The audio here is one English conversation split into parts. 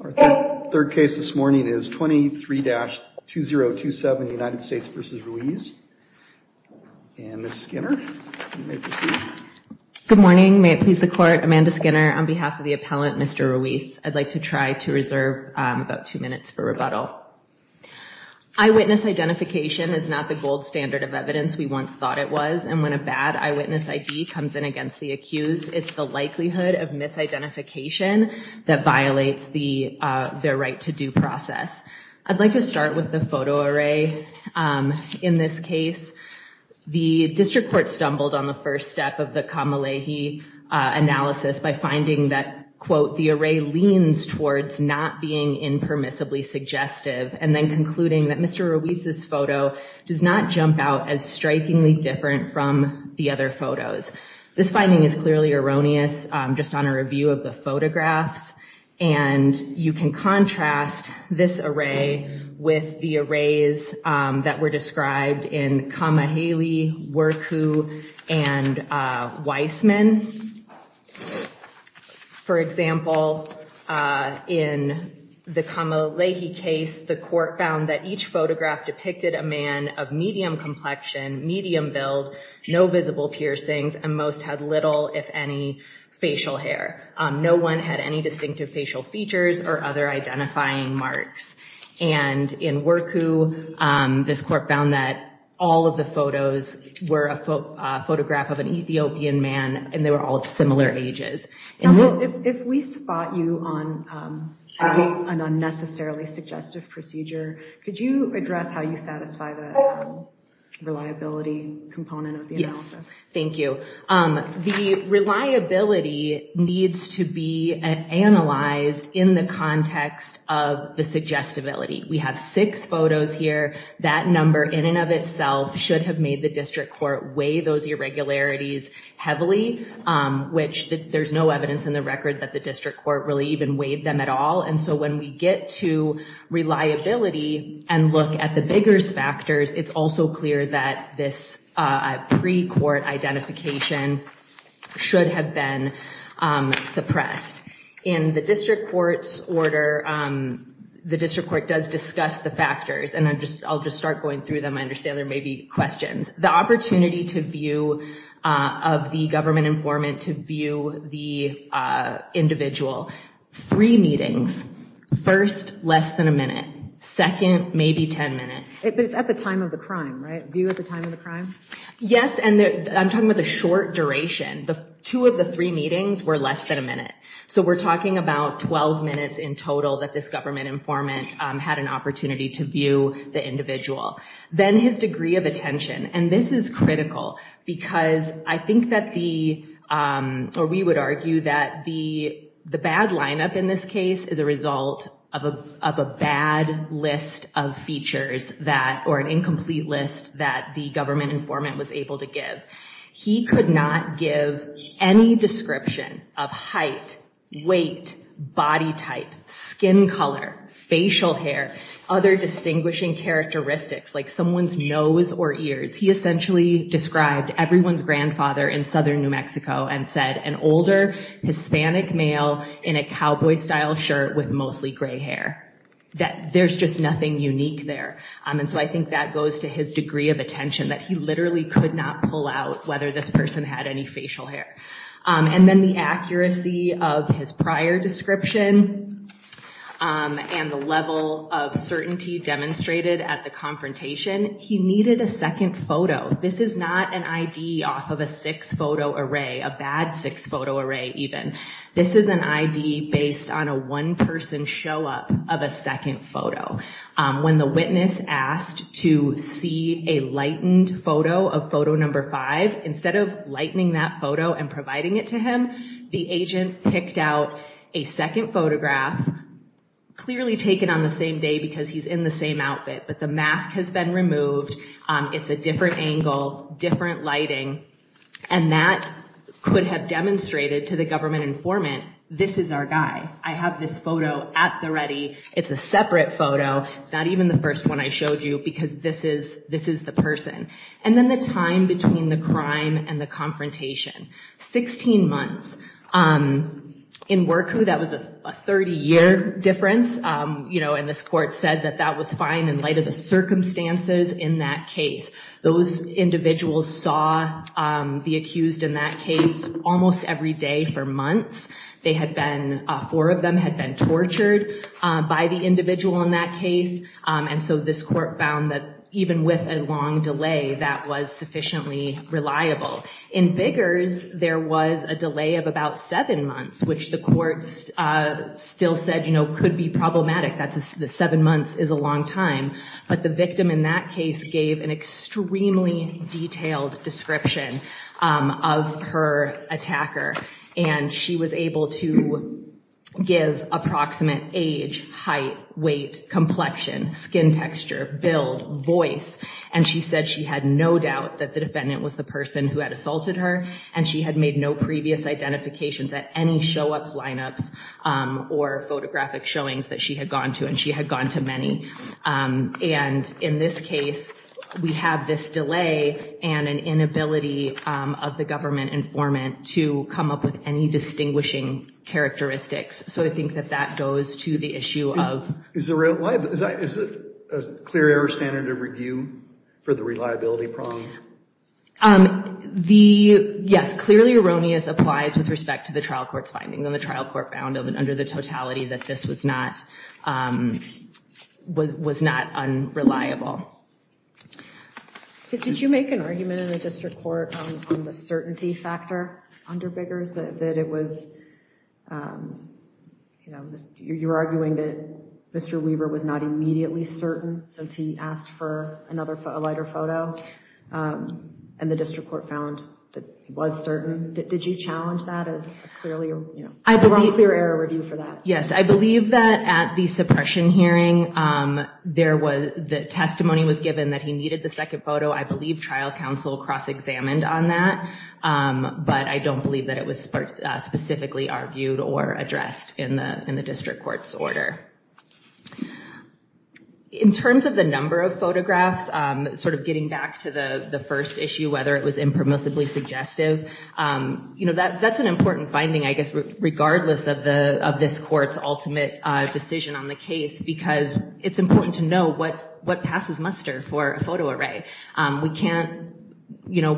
Our third case this morning is 23-2027, United States v. Ruiz. And Ms. Skinner, you may proceed. Good morning. May it please the court, Amanda Skinner, on behalf of the appellant, Mr. Ruiz, I'd like to try to reserve about two minutes for rebuttal. Eyewitness identification is not the gold standard of evidence we once thought it was, and when a bad eyewitness ID comes in against the accused, it's the likelihood of misidentification that violates their right-to-do process. I'd like to start with the photo array. In this case, the district court stumbled on the first step of the Kamalahi analysis by finding that, quote, the array leans towards not being impermissibly suggestive, and then concluding that Mr. Ruiz's photo does not jump out as strikingly different from the other photos. This finding is clearly erroneous just on a review of the photographs, and you can contrast this array with the arrays that were described in Kamaheli, Wirku, and Weissman. For example, in the Kamalahi case, the court found that each photograph depicted a man of medium complexion, medium build, no visible piercings, and most had little, if any, facial hair. No one had any distinctive facial features or other identifying marks. And in Wirku, this court found that all of the photos were a photograph of an Ethiopian man, and they were all of similar ages. If we spot you on an unnecessarily suggestive procedure, could you address how you satisfy the reliability component of the analysis? Yes, thank you. The reliability needs to be analyzed in the context of the suggestibility. We have six photos here. That number in and of itself should have made the district court weigh those irregularities heavily, which there's no evidence in the record that the district court really even weighed them at all. And so when we get to reliability and look at the vigorous factors, it's also clear that this pre-court identification should have been suppressed. In the district court's order, the district court does discuss the factors, and I'll just start going through them. I understand there may be questions. The opportunity to view of the government informant to view the individual. Three meetings. First, less than a minute. Second, maybe ten minutes. But it's at the time of the crime, right? View at the time of the crime? Yes, and I'm talking about the short duration. Two of the three meetings were less than a minute. So we're talking about 12 minutes in total that this government informant had an opportunity to view the individual. Then his degree of attention, and this is critical because I think that the, or we would argue that the bad lineup in this case is a result of a bad list of features or an incomplete list that the government informant was able to give. He could not give any description of height, weight, body type, skin color, facial hair, other distinguishing characteristics like someone's nose or ears. He essentially described everyone's grandfather in southern New Mexico and said an older Hispanic male in a cowboy style shirt with mostly gray hair. There's just nothing unique there. And so I think that goes to his degree of attention, that he literally could not pull out whether this person had any facial hair. And then the accuracy of his prior description and the level of certainty demonstrated at the confrontation. He needed a second photo. This is not an ID off of a six-photo array, a bad six-photo array even. This is an ID based on a one-person show-up of a second photo. When the witness asked to see a lightened photo of photo number five, instead of lightening that photo and providing it to him, the agent picked out a second photograph, clearly taken on the same day because he's in the same outfit, but the mask has been removed. It's a different angle, different lighting, and that could have demonstrated to the government informant, this is our guy. I have this photo at the ready. It's a separate photo. It's not even the first one I showed you because this is the person. And then the time between the crime and the confrontation, 16 months. In Wercou, that was a 30-year difference, and this court said that that was fine in light of the circumstances in that case. Those individuals saw the accused in that case almost every day for months. Four of them had been tortured by the individual in that case, and so this court found that even with a long delay, that was sufficiently reliable. In Biggers, there was a delay of about seven months, which the courts still said could be problematic. The seven months is a long time, but the victim in that case gave an extremely detailed description of her attacker, and she was able to give approximate age, height, weight, complexion, skin texture, build, voice, and she said she had no doubt that the defendant was the person who had assaulted her, and she had made no previous identifications at any show-ups, line-ups, or photographic showings that she had gone to, and she had gone to many. And in this case, we have this delay and an inability of the government informant to come up with any distinguishing characteristics, so I think that that goes to the issue of— Is it a clear error standard of review for the reliability problem? Yes, clearly erroneous applies with respect to the trial court's findings, and the trial court found under the totality that this was not unreliable. Did you make an argument in the district court on the certainty factor under Biggers, that it was—you know, you're arguing that Mr. Weber was not immediately certain since he asked for a lighter photo, and the district court found that he was certain. Did you challenge that as a clear error review for that? Yes, I believe that at the suppression hearing, the testimony was given that he needed the second photo. I believe trial counsel cross-examined on that, but I don't believe that it was specifically argued or addressed in the district court's order. In terms of the number of photographs, sort of getting back to the first issue, whether it was impermissibly suggestive, that's an important finding, I guess, regardless of this court's ultimate decision on the case, because it's important to know what passes muster for a photo array. We don't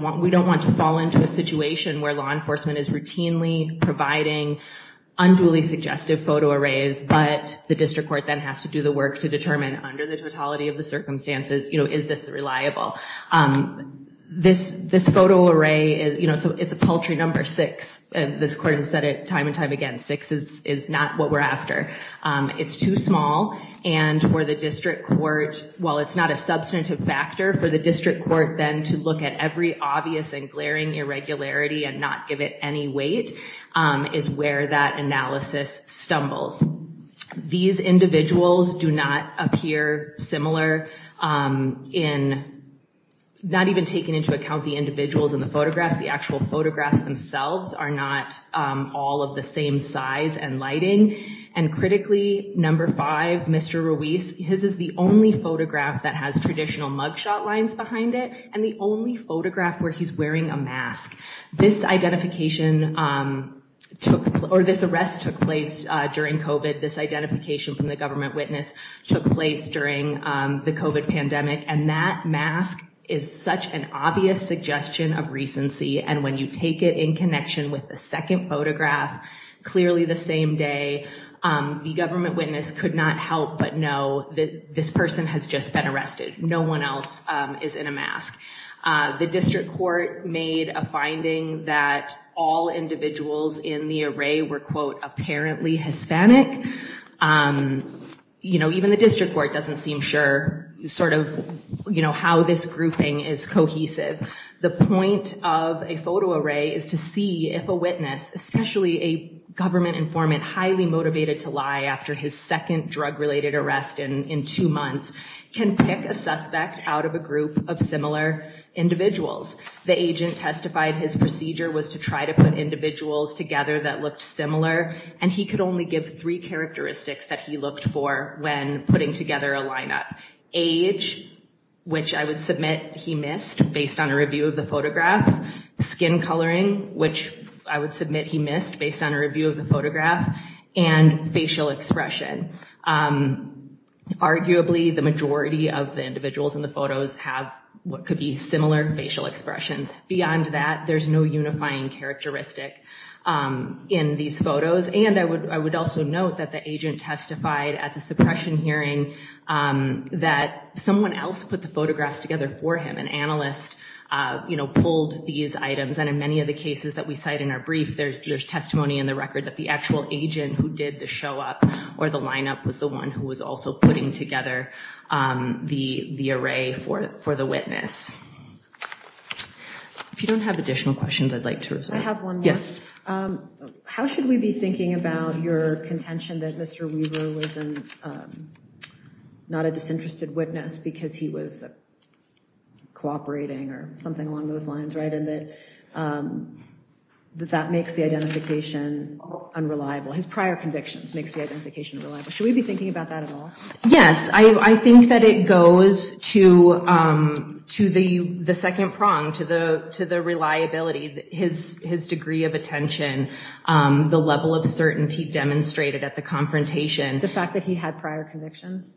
want to fall into a situation where law enforcement is routinely providing unduly suggestive photo arrays, but the district court then has to do the work to determine, under the totality of the circumstances, is this reliable? This photo array, it's a paltry number six. This court has said it time and time again, six is not what we're after. It's too small, and for the district court, while it's not a substantive factor, for the district court then to look at every obvious and glaring irregularity and not give it any weight is where that analysis stumbles. These individuals do not appear similar in not even taking into account the individuals in the photographs. The actual photographs themselves are not all of the same size and lighting, and critically, number five, Mr. Ruiz, his is the only photograph that has traditional mugshot lines behind it, and the only photograph where he's wearing a mask. This identification or this arrest took place during COVID. This identification from the government witness took place during the COVID pandemic, and that mask is such an obvious suggestion of recency, and when you take it in connection with the second photograph, clearly the same day, the government witness could not help but know that this person has just been arrested. No one else is in a mask. The district court made a finding that all individuals in the array were, quote, apparently Hispanic. Even the district court doesn't seem sure how this grouping is cohesive. The point of a photo array is to see if a witness, especially a government informant highly motivated to lie after his second drug-related arrest in two months, can pick a suspect out of a group of similar individuals. The agent testified his procedure was to try to put individuals together that looked similar, and he could only give three characteristics that he looked for when putting together a lineup. Age, which I would submit he missed based on a review of the photographs, skin coloring, which I would submit he missed based on a review of the photograph, and facial expression. Arguably, the majority of the individuals in the photos have what could be similar facial expressions. Beyond that, there's no unifying characteristic in these photos, and I would also note that the agent testified at the suppression hearing that someone else put the photographs together for him. An analyst pulled these items, and in many of the cases that we cite in our brief, there's testimony in the record that the actual agent who did the show-up or the lineup was the one who was also putting together the array for the witness. If you don't have additional questions, I'd like to reserve. I have one more. Yes. How should we be thinking about your contention that Mr. Weaver was not a disinterested witness because he was cooperating or something along those lines, right, and that that makes the identification unreliable? His prior convictions makes the identification unreliable. Should we be thinking about that at all? Yes. I think that it goes to the second prong, to the reliability, his degree of attention, the level of certainty demonstrated at the confrontation. The fact that he had prior convictions?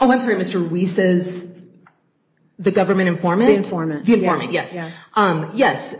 Oh, I'm sorry. Mr. Weaver's the government informant? The informant. The informant, yes. Yes.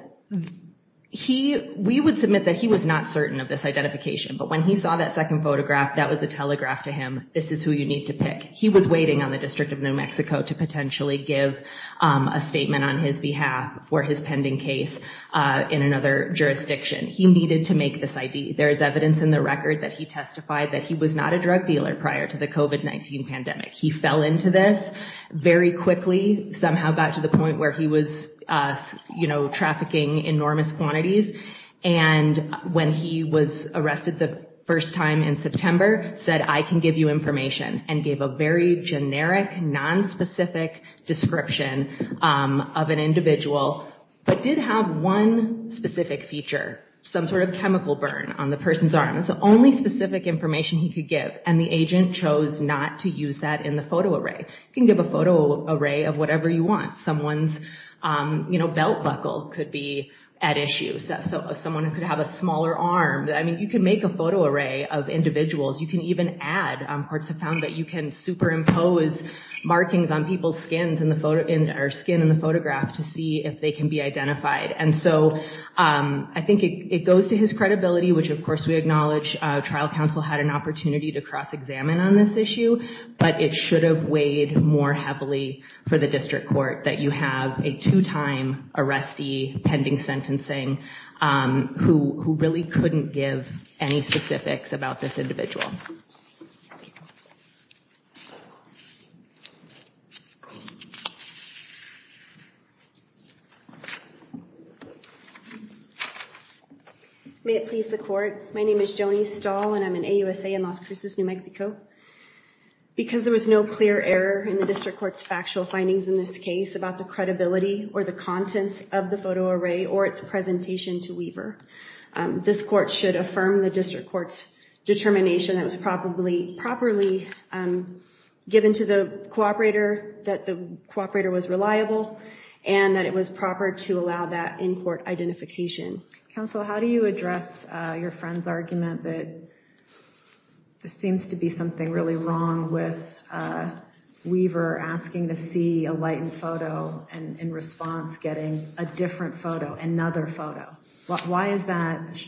We would submit that he was not certain of this identification, but when he saw that second photograph, that was a telegraph to him. This is who you need to pick. He was waiting on the District of New Mexico to potentially give a statement on his behalf for his pending case in another jurisdiction. He needed to make this ID. There is evidence in the record that he testified that he was not a drug dealer prior to the COVID-19 pandemic. He fell into this very quickly, somehow got to the point where he was trafficking enormous quantities, and when he was arrested the first time in September, said, I can give you information, and gave a very generic, nonspecific description of an individual, but did have one specific feature, some sort of chemical burn on the person's arm. Only specific information he could give, and the agent chose not to use that in the photo array. You can give a photo array of whatever you want. Someone's belt buckle could be at issue. Someone could have a smaller arm. You can make a photo array of individuals. You can even add. Courts have found that you can superimpose markings on people's skin in the photograph to see if they can be identified. And so I think it goes to his credibility, which, of course, we acknowledge. Trial counsel had an opportunity to cross-examine on this issue, but it should have weighed more heavily for the district court that you have a two-time arrestee pending sentencing who really couldn't give any specifics about this individual. May it please the court. My name is Joni Stahl, and I'm an AUSA in Las Cruces, New Mexico. Because there was no clear error in the district court's factual findings in this case about the credibility or the contents of the photo array or its presentation to Weaver, this court should affirm the district court's determination that was properly given to the cooperator, that the cooperator was reliable, and that it was proper to allow that in-court identification. Counsel, how do you address your friend's argument that there seems to be something really wrong with Weaver asking to see a lightened photo and, in response, getting a different photo, another photo? Why is that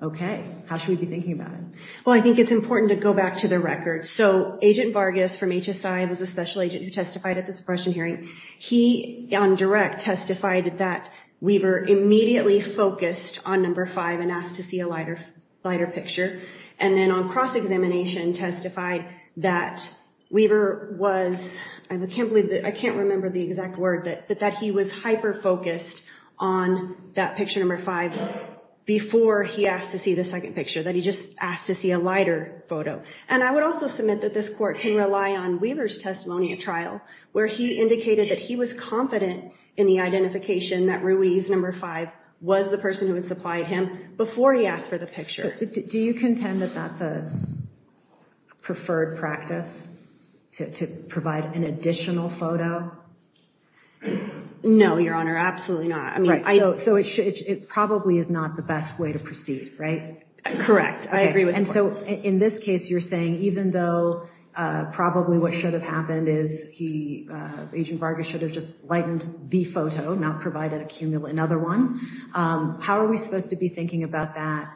OK? How should we be thinking about it? Well, I think it's important to go back to the record. So Agent Vargas from HSI was a special agent who testified at the suppression hearing. He, on direct, testified that Weaver immediately focused on number five and asked to see a lighter picture. And then on cross-examination, testified that Weaver was, I can't remember the exact word, but that he was hyper-focused on that picture number five before he asked to see the second picture, that he just asked to see a lighter photo. And I would also submit that this court can rely on Weaver's testimony at trial, where he indicated that he was confident in the identification that Ruiz, number five, was the person who had supplied him before he asked for the picture. Do you contend that that's a preferred practice, to provide an additional photo? No, Your Honor, absolutely not. So it probably is not the best way to proceed, right? Correct. I agree with the court. And so in this case, you're saying even though probably what should have happened is he, Agent Vargas should have just lightened the photo, not provided another one. How are we supposed to be thinking about that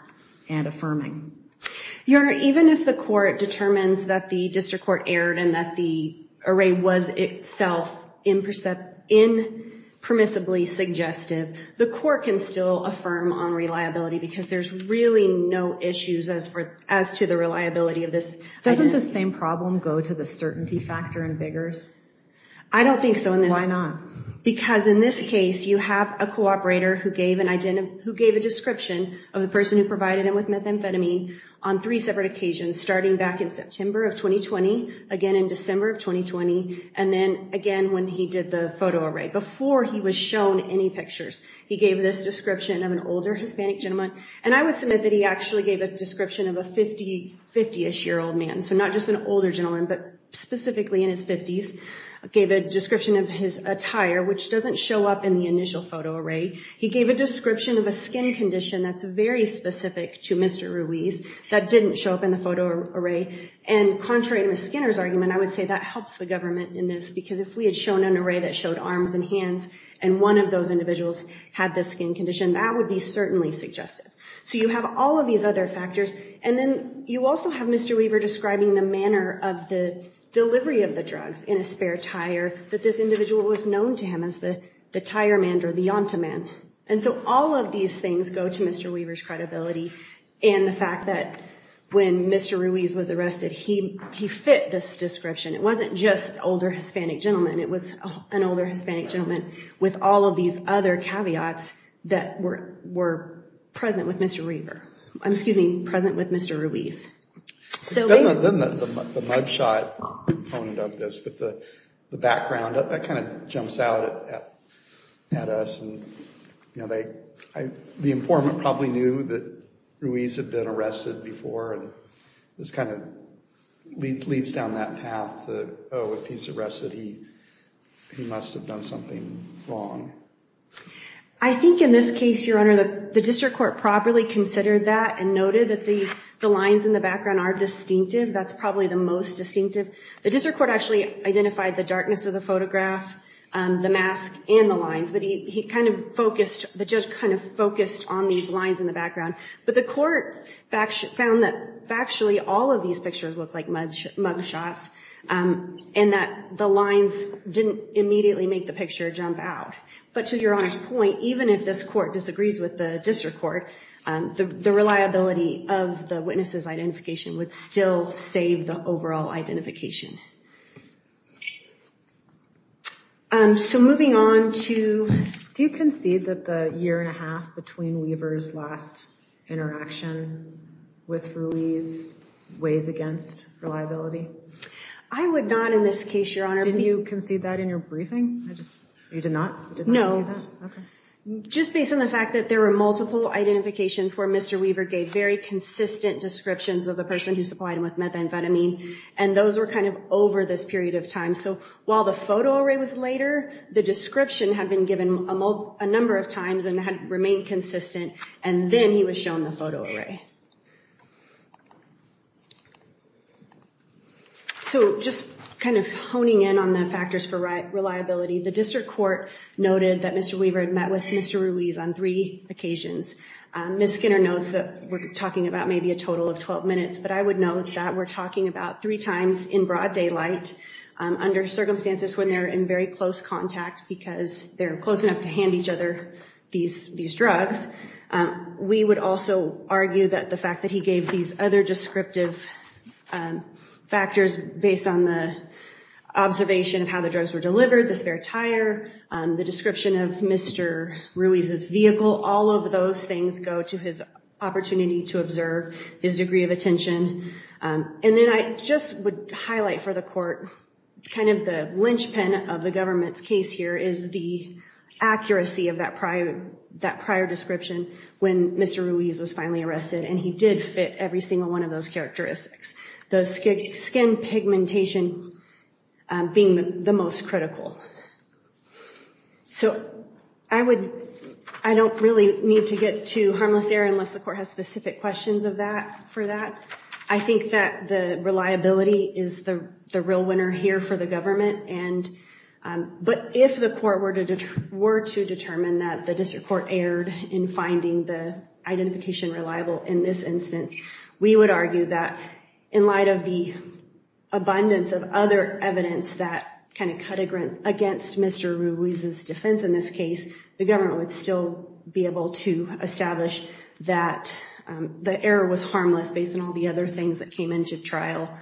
and affirming? Your Honor, even if the court determines that the district court erred and that the array was itself impermissibly suggestive, the court can still affirm on reliability because there's really no issues as to the reliability of this. Doesn't the same problem go to the certainty factor in Biggers? I don't think so. Why not? Because in this case, you have a cooperator who gave a description of the person who provided him with methamphetamine on three separate occasions, starting back in September of 2020, again in December of 2020, and then again when he did the photo array, before he was shown any pictures. He gave this description of an older Hispanic gentleman. And I would submit that he actually gave a description of a 50-ish-year-old man, so not just an older gentleman, but specifically in his 50s, gave a description of his attire, which doesn't show up in the initial photo array. He gave a description of a skin condition that's very specific to Mr. Ruiz that didn't show up in the photo array. And contrary to Ms. Skinner's argument, I would say that helps the government in this because if we had shown an array that showed arms and hands and one of those individuals had this skin condition, that would be certainly suggestive. So you have all of these other factors. And then you also have Mr. Weaver describing the manner of the delivery of the drugs in a spare tire that this individual was known to him as the tire man or the yonta man. And so all of these things go to Mr. Weaver's credibility and the fact that when Mr. Ruiz was arrested, he fit this description. It wasn't just an older Hispanic gentleman. It was an older Hispanic gentleman with all of these other caveats that were present with Mr. Weaver. I'm excuse me, present with Mr. Ruiz. Then the mug shot component of this with the background, that kind of jumps out at us. The informant probably knew that Ruiz had been arrested before. This kind of leads down that path that, oh, if he's arrested, he must have done something wrong. I think in this case, Your Honor, the district court properly considered that and noted that the lines in the background are distinctive. That's probably the most distinctive. The district court actually identified the darkness of the photograph, the mask, and the lines, but the judge kind of focused on these lines in the background. But the court found that factually all of these pictures look like mug shots and that the lines didn't immediately make the picture jump out. But to Your Honor's point, even if this court disagrees with the district court, the reliability of the witness's identification would still save the overall identification. Moving on to, do you concede that the year and a half between Weaver's last interaction with Ruiz weighs against reliability? I would not in this case, Your Honor. Didn't you concede that in your briefing? You did not? No. Okay. Just based on the fact that there were multiple identifications where Mr. Weaver gave very consistent descriptions of the person who supplied him with methamphetamine, and those were kind of over this period of time. So while the photo array was later, the description had been given a number of times and had remained consistent, and then he was shown the photo array. So just kind of honing in on the factors for reliability, the district court noted that Mr. Weaver had met with Mr. Ruiz on three occasions. Ms. Skinner knows that we're talking about maybe a total of 12 minutes, but I would note that we're talking about three times in broad daylight under circumstances when they're in very close contact because they're close enough to hand each other these drugs. We would also argue that the fact that he gave these other descriptive factors based on the observation of how the drugs were delivered, the spare tire, the description of Mr. Ruiz's vehicle, all of those things go to his opportunity to observe his degree of attention. And then I just would highlight for the court kind of the linchpin of the government's case here is the accuracy of that prior description when Mr. Ruiz was finally arrested, and he did fit every single one of those characteristics, the skin pigmentation being the most critical. So I don't really need to get to harmless error unless the court has specific questions for that. I think that the reliability is the real winner here for the government. But if the court were to determine that the district court erred in finding the identification reliable in this instance, we would argue that in light of the abundance of other evidence that kind of cut against Mr. Ruiz's defense in this case, the government would still be able to establish that the error was harmless based on all the other things that came into trial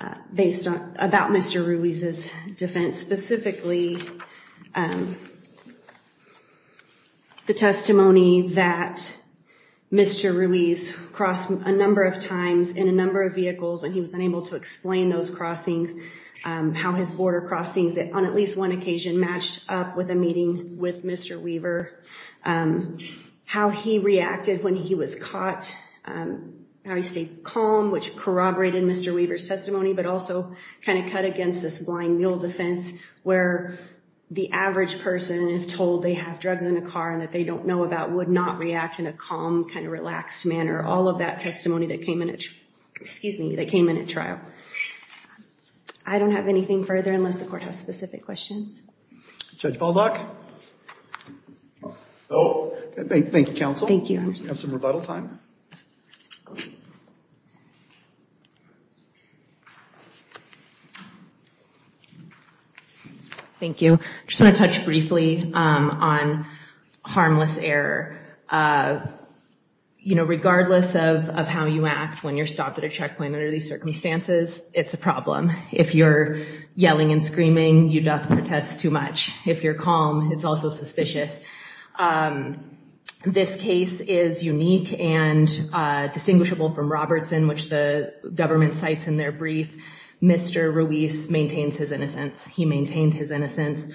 about Mr. Ruiz's defense, specifically the testimony that Mr. Ruiz crossed a number of times in a number of vehicles and he was unable to explain those crossings, how his border crossings on at least one occasion matched up with a meeting with Mr. Weaver, how he reacted when he was caught, how he stayed calm, which corroborated Mr. Weaver's testimony, but also kind of cut against this blind mule defense where the average person, if told they have drugs in a car and that they don't know about, would not react in a calm, kind of relaxed manner. All of that testimony that came in at trial. I don't have anything further unless the court has specific questions. Judge Baldock? No. Thank you, counsel. Thank you. We have some rebuttal time. Thank you. I just want to touch briefly on harmless error. You know, regardless of how you act when you're stopped at a checkpoint under these circumstances, it's a problem. If you're yelling and screaming, you doth protest too much. If you're calm, it's also suspicious. This case is unique and distinguishable from Robertson, which the government cites in their brief. Mr. Ruiz maintains his innocence. He maintained his innocence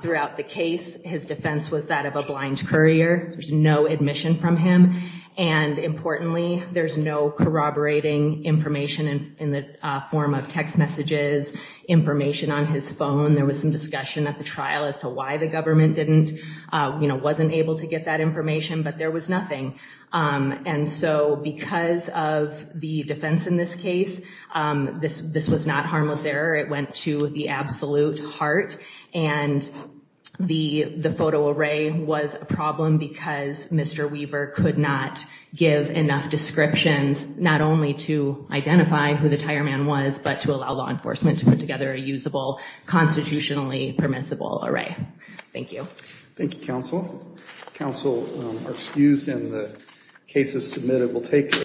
throughout the case. His defense was that of a blind courier. There's no admission from him. And importantly, there's no corroborating information in the form of text messages, information on his phone. There was some discussion at the trial as to why the government wasn't able to get that information, but there was nothing. And so because of the defense in this case, this was not harmless error. It went to the absolute heart. And the photo array was a problem because Mr. Weaver could not give enough descriptions, not only to identify who the tire man was, but to allow law enforcement to put together a usable, constitutionally permissible array. Thank you. Thank you, Counsel. Counsel, our excuse in the case is submitted.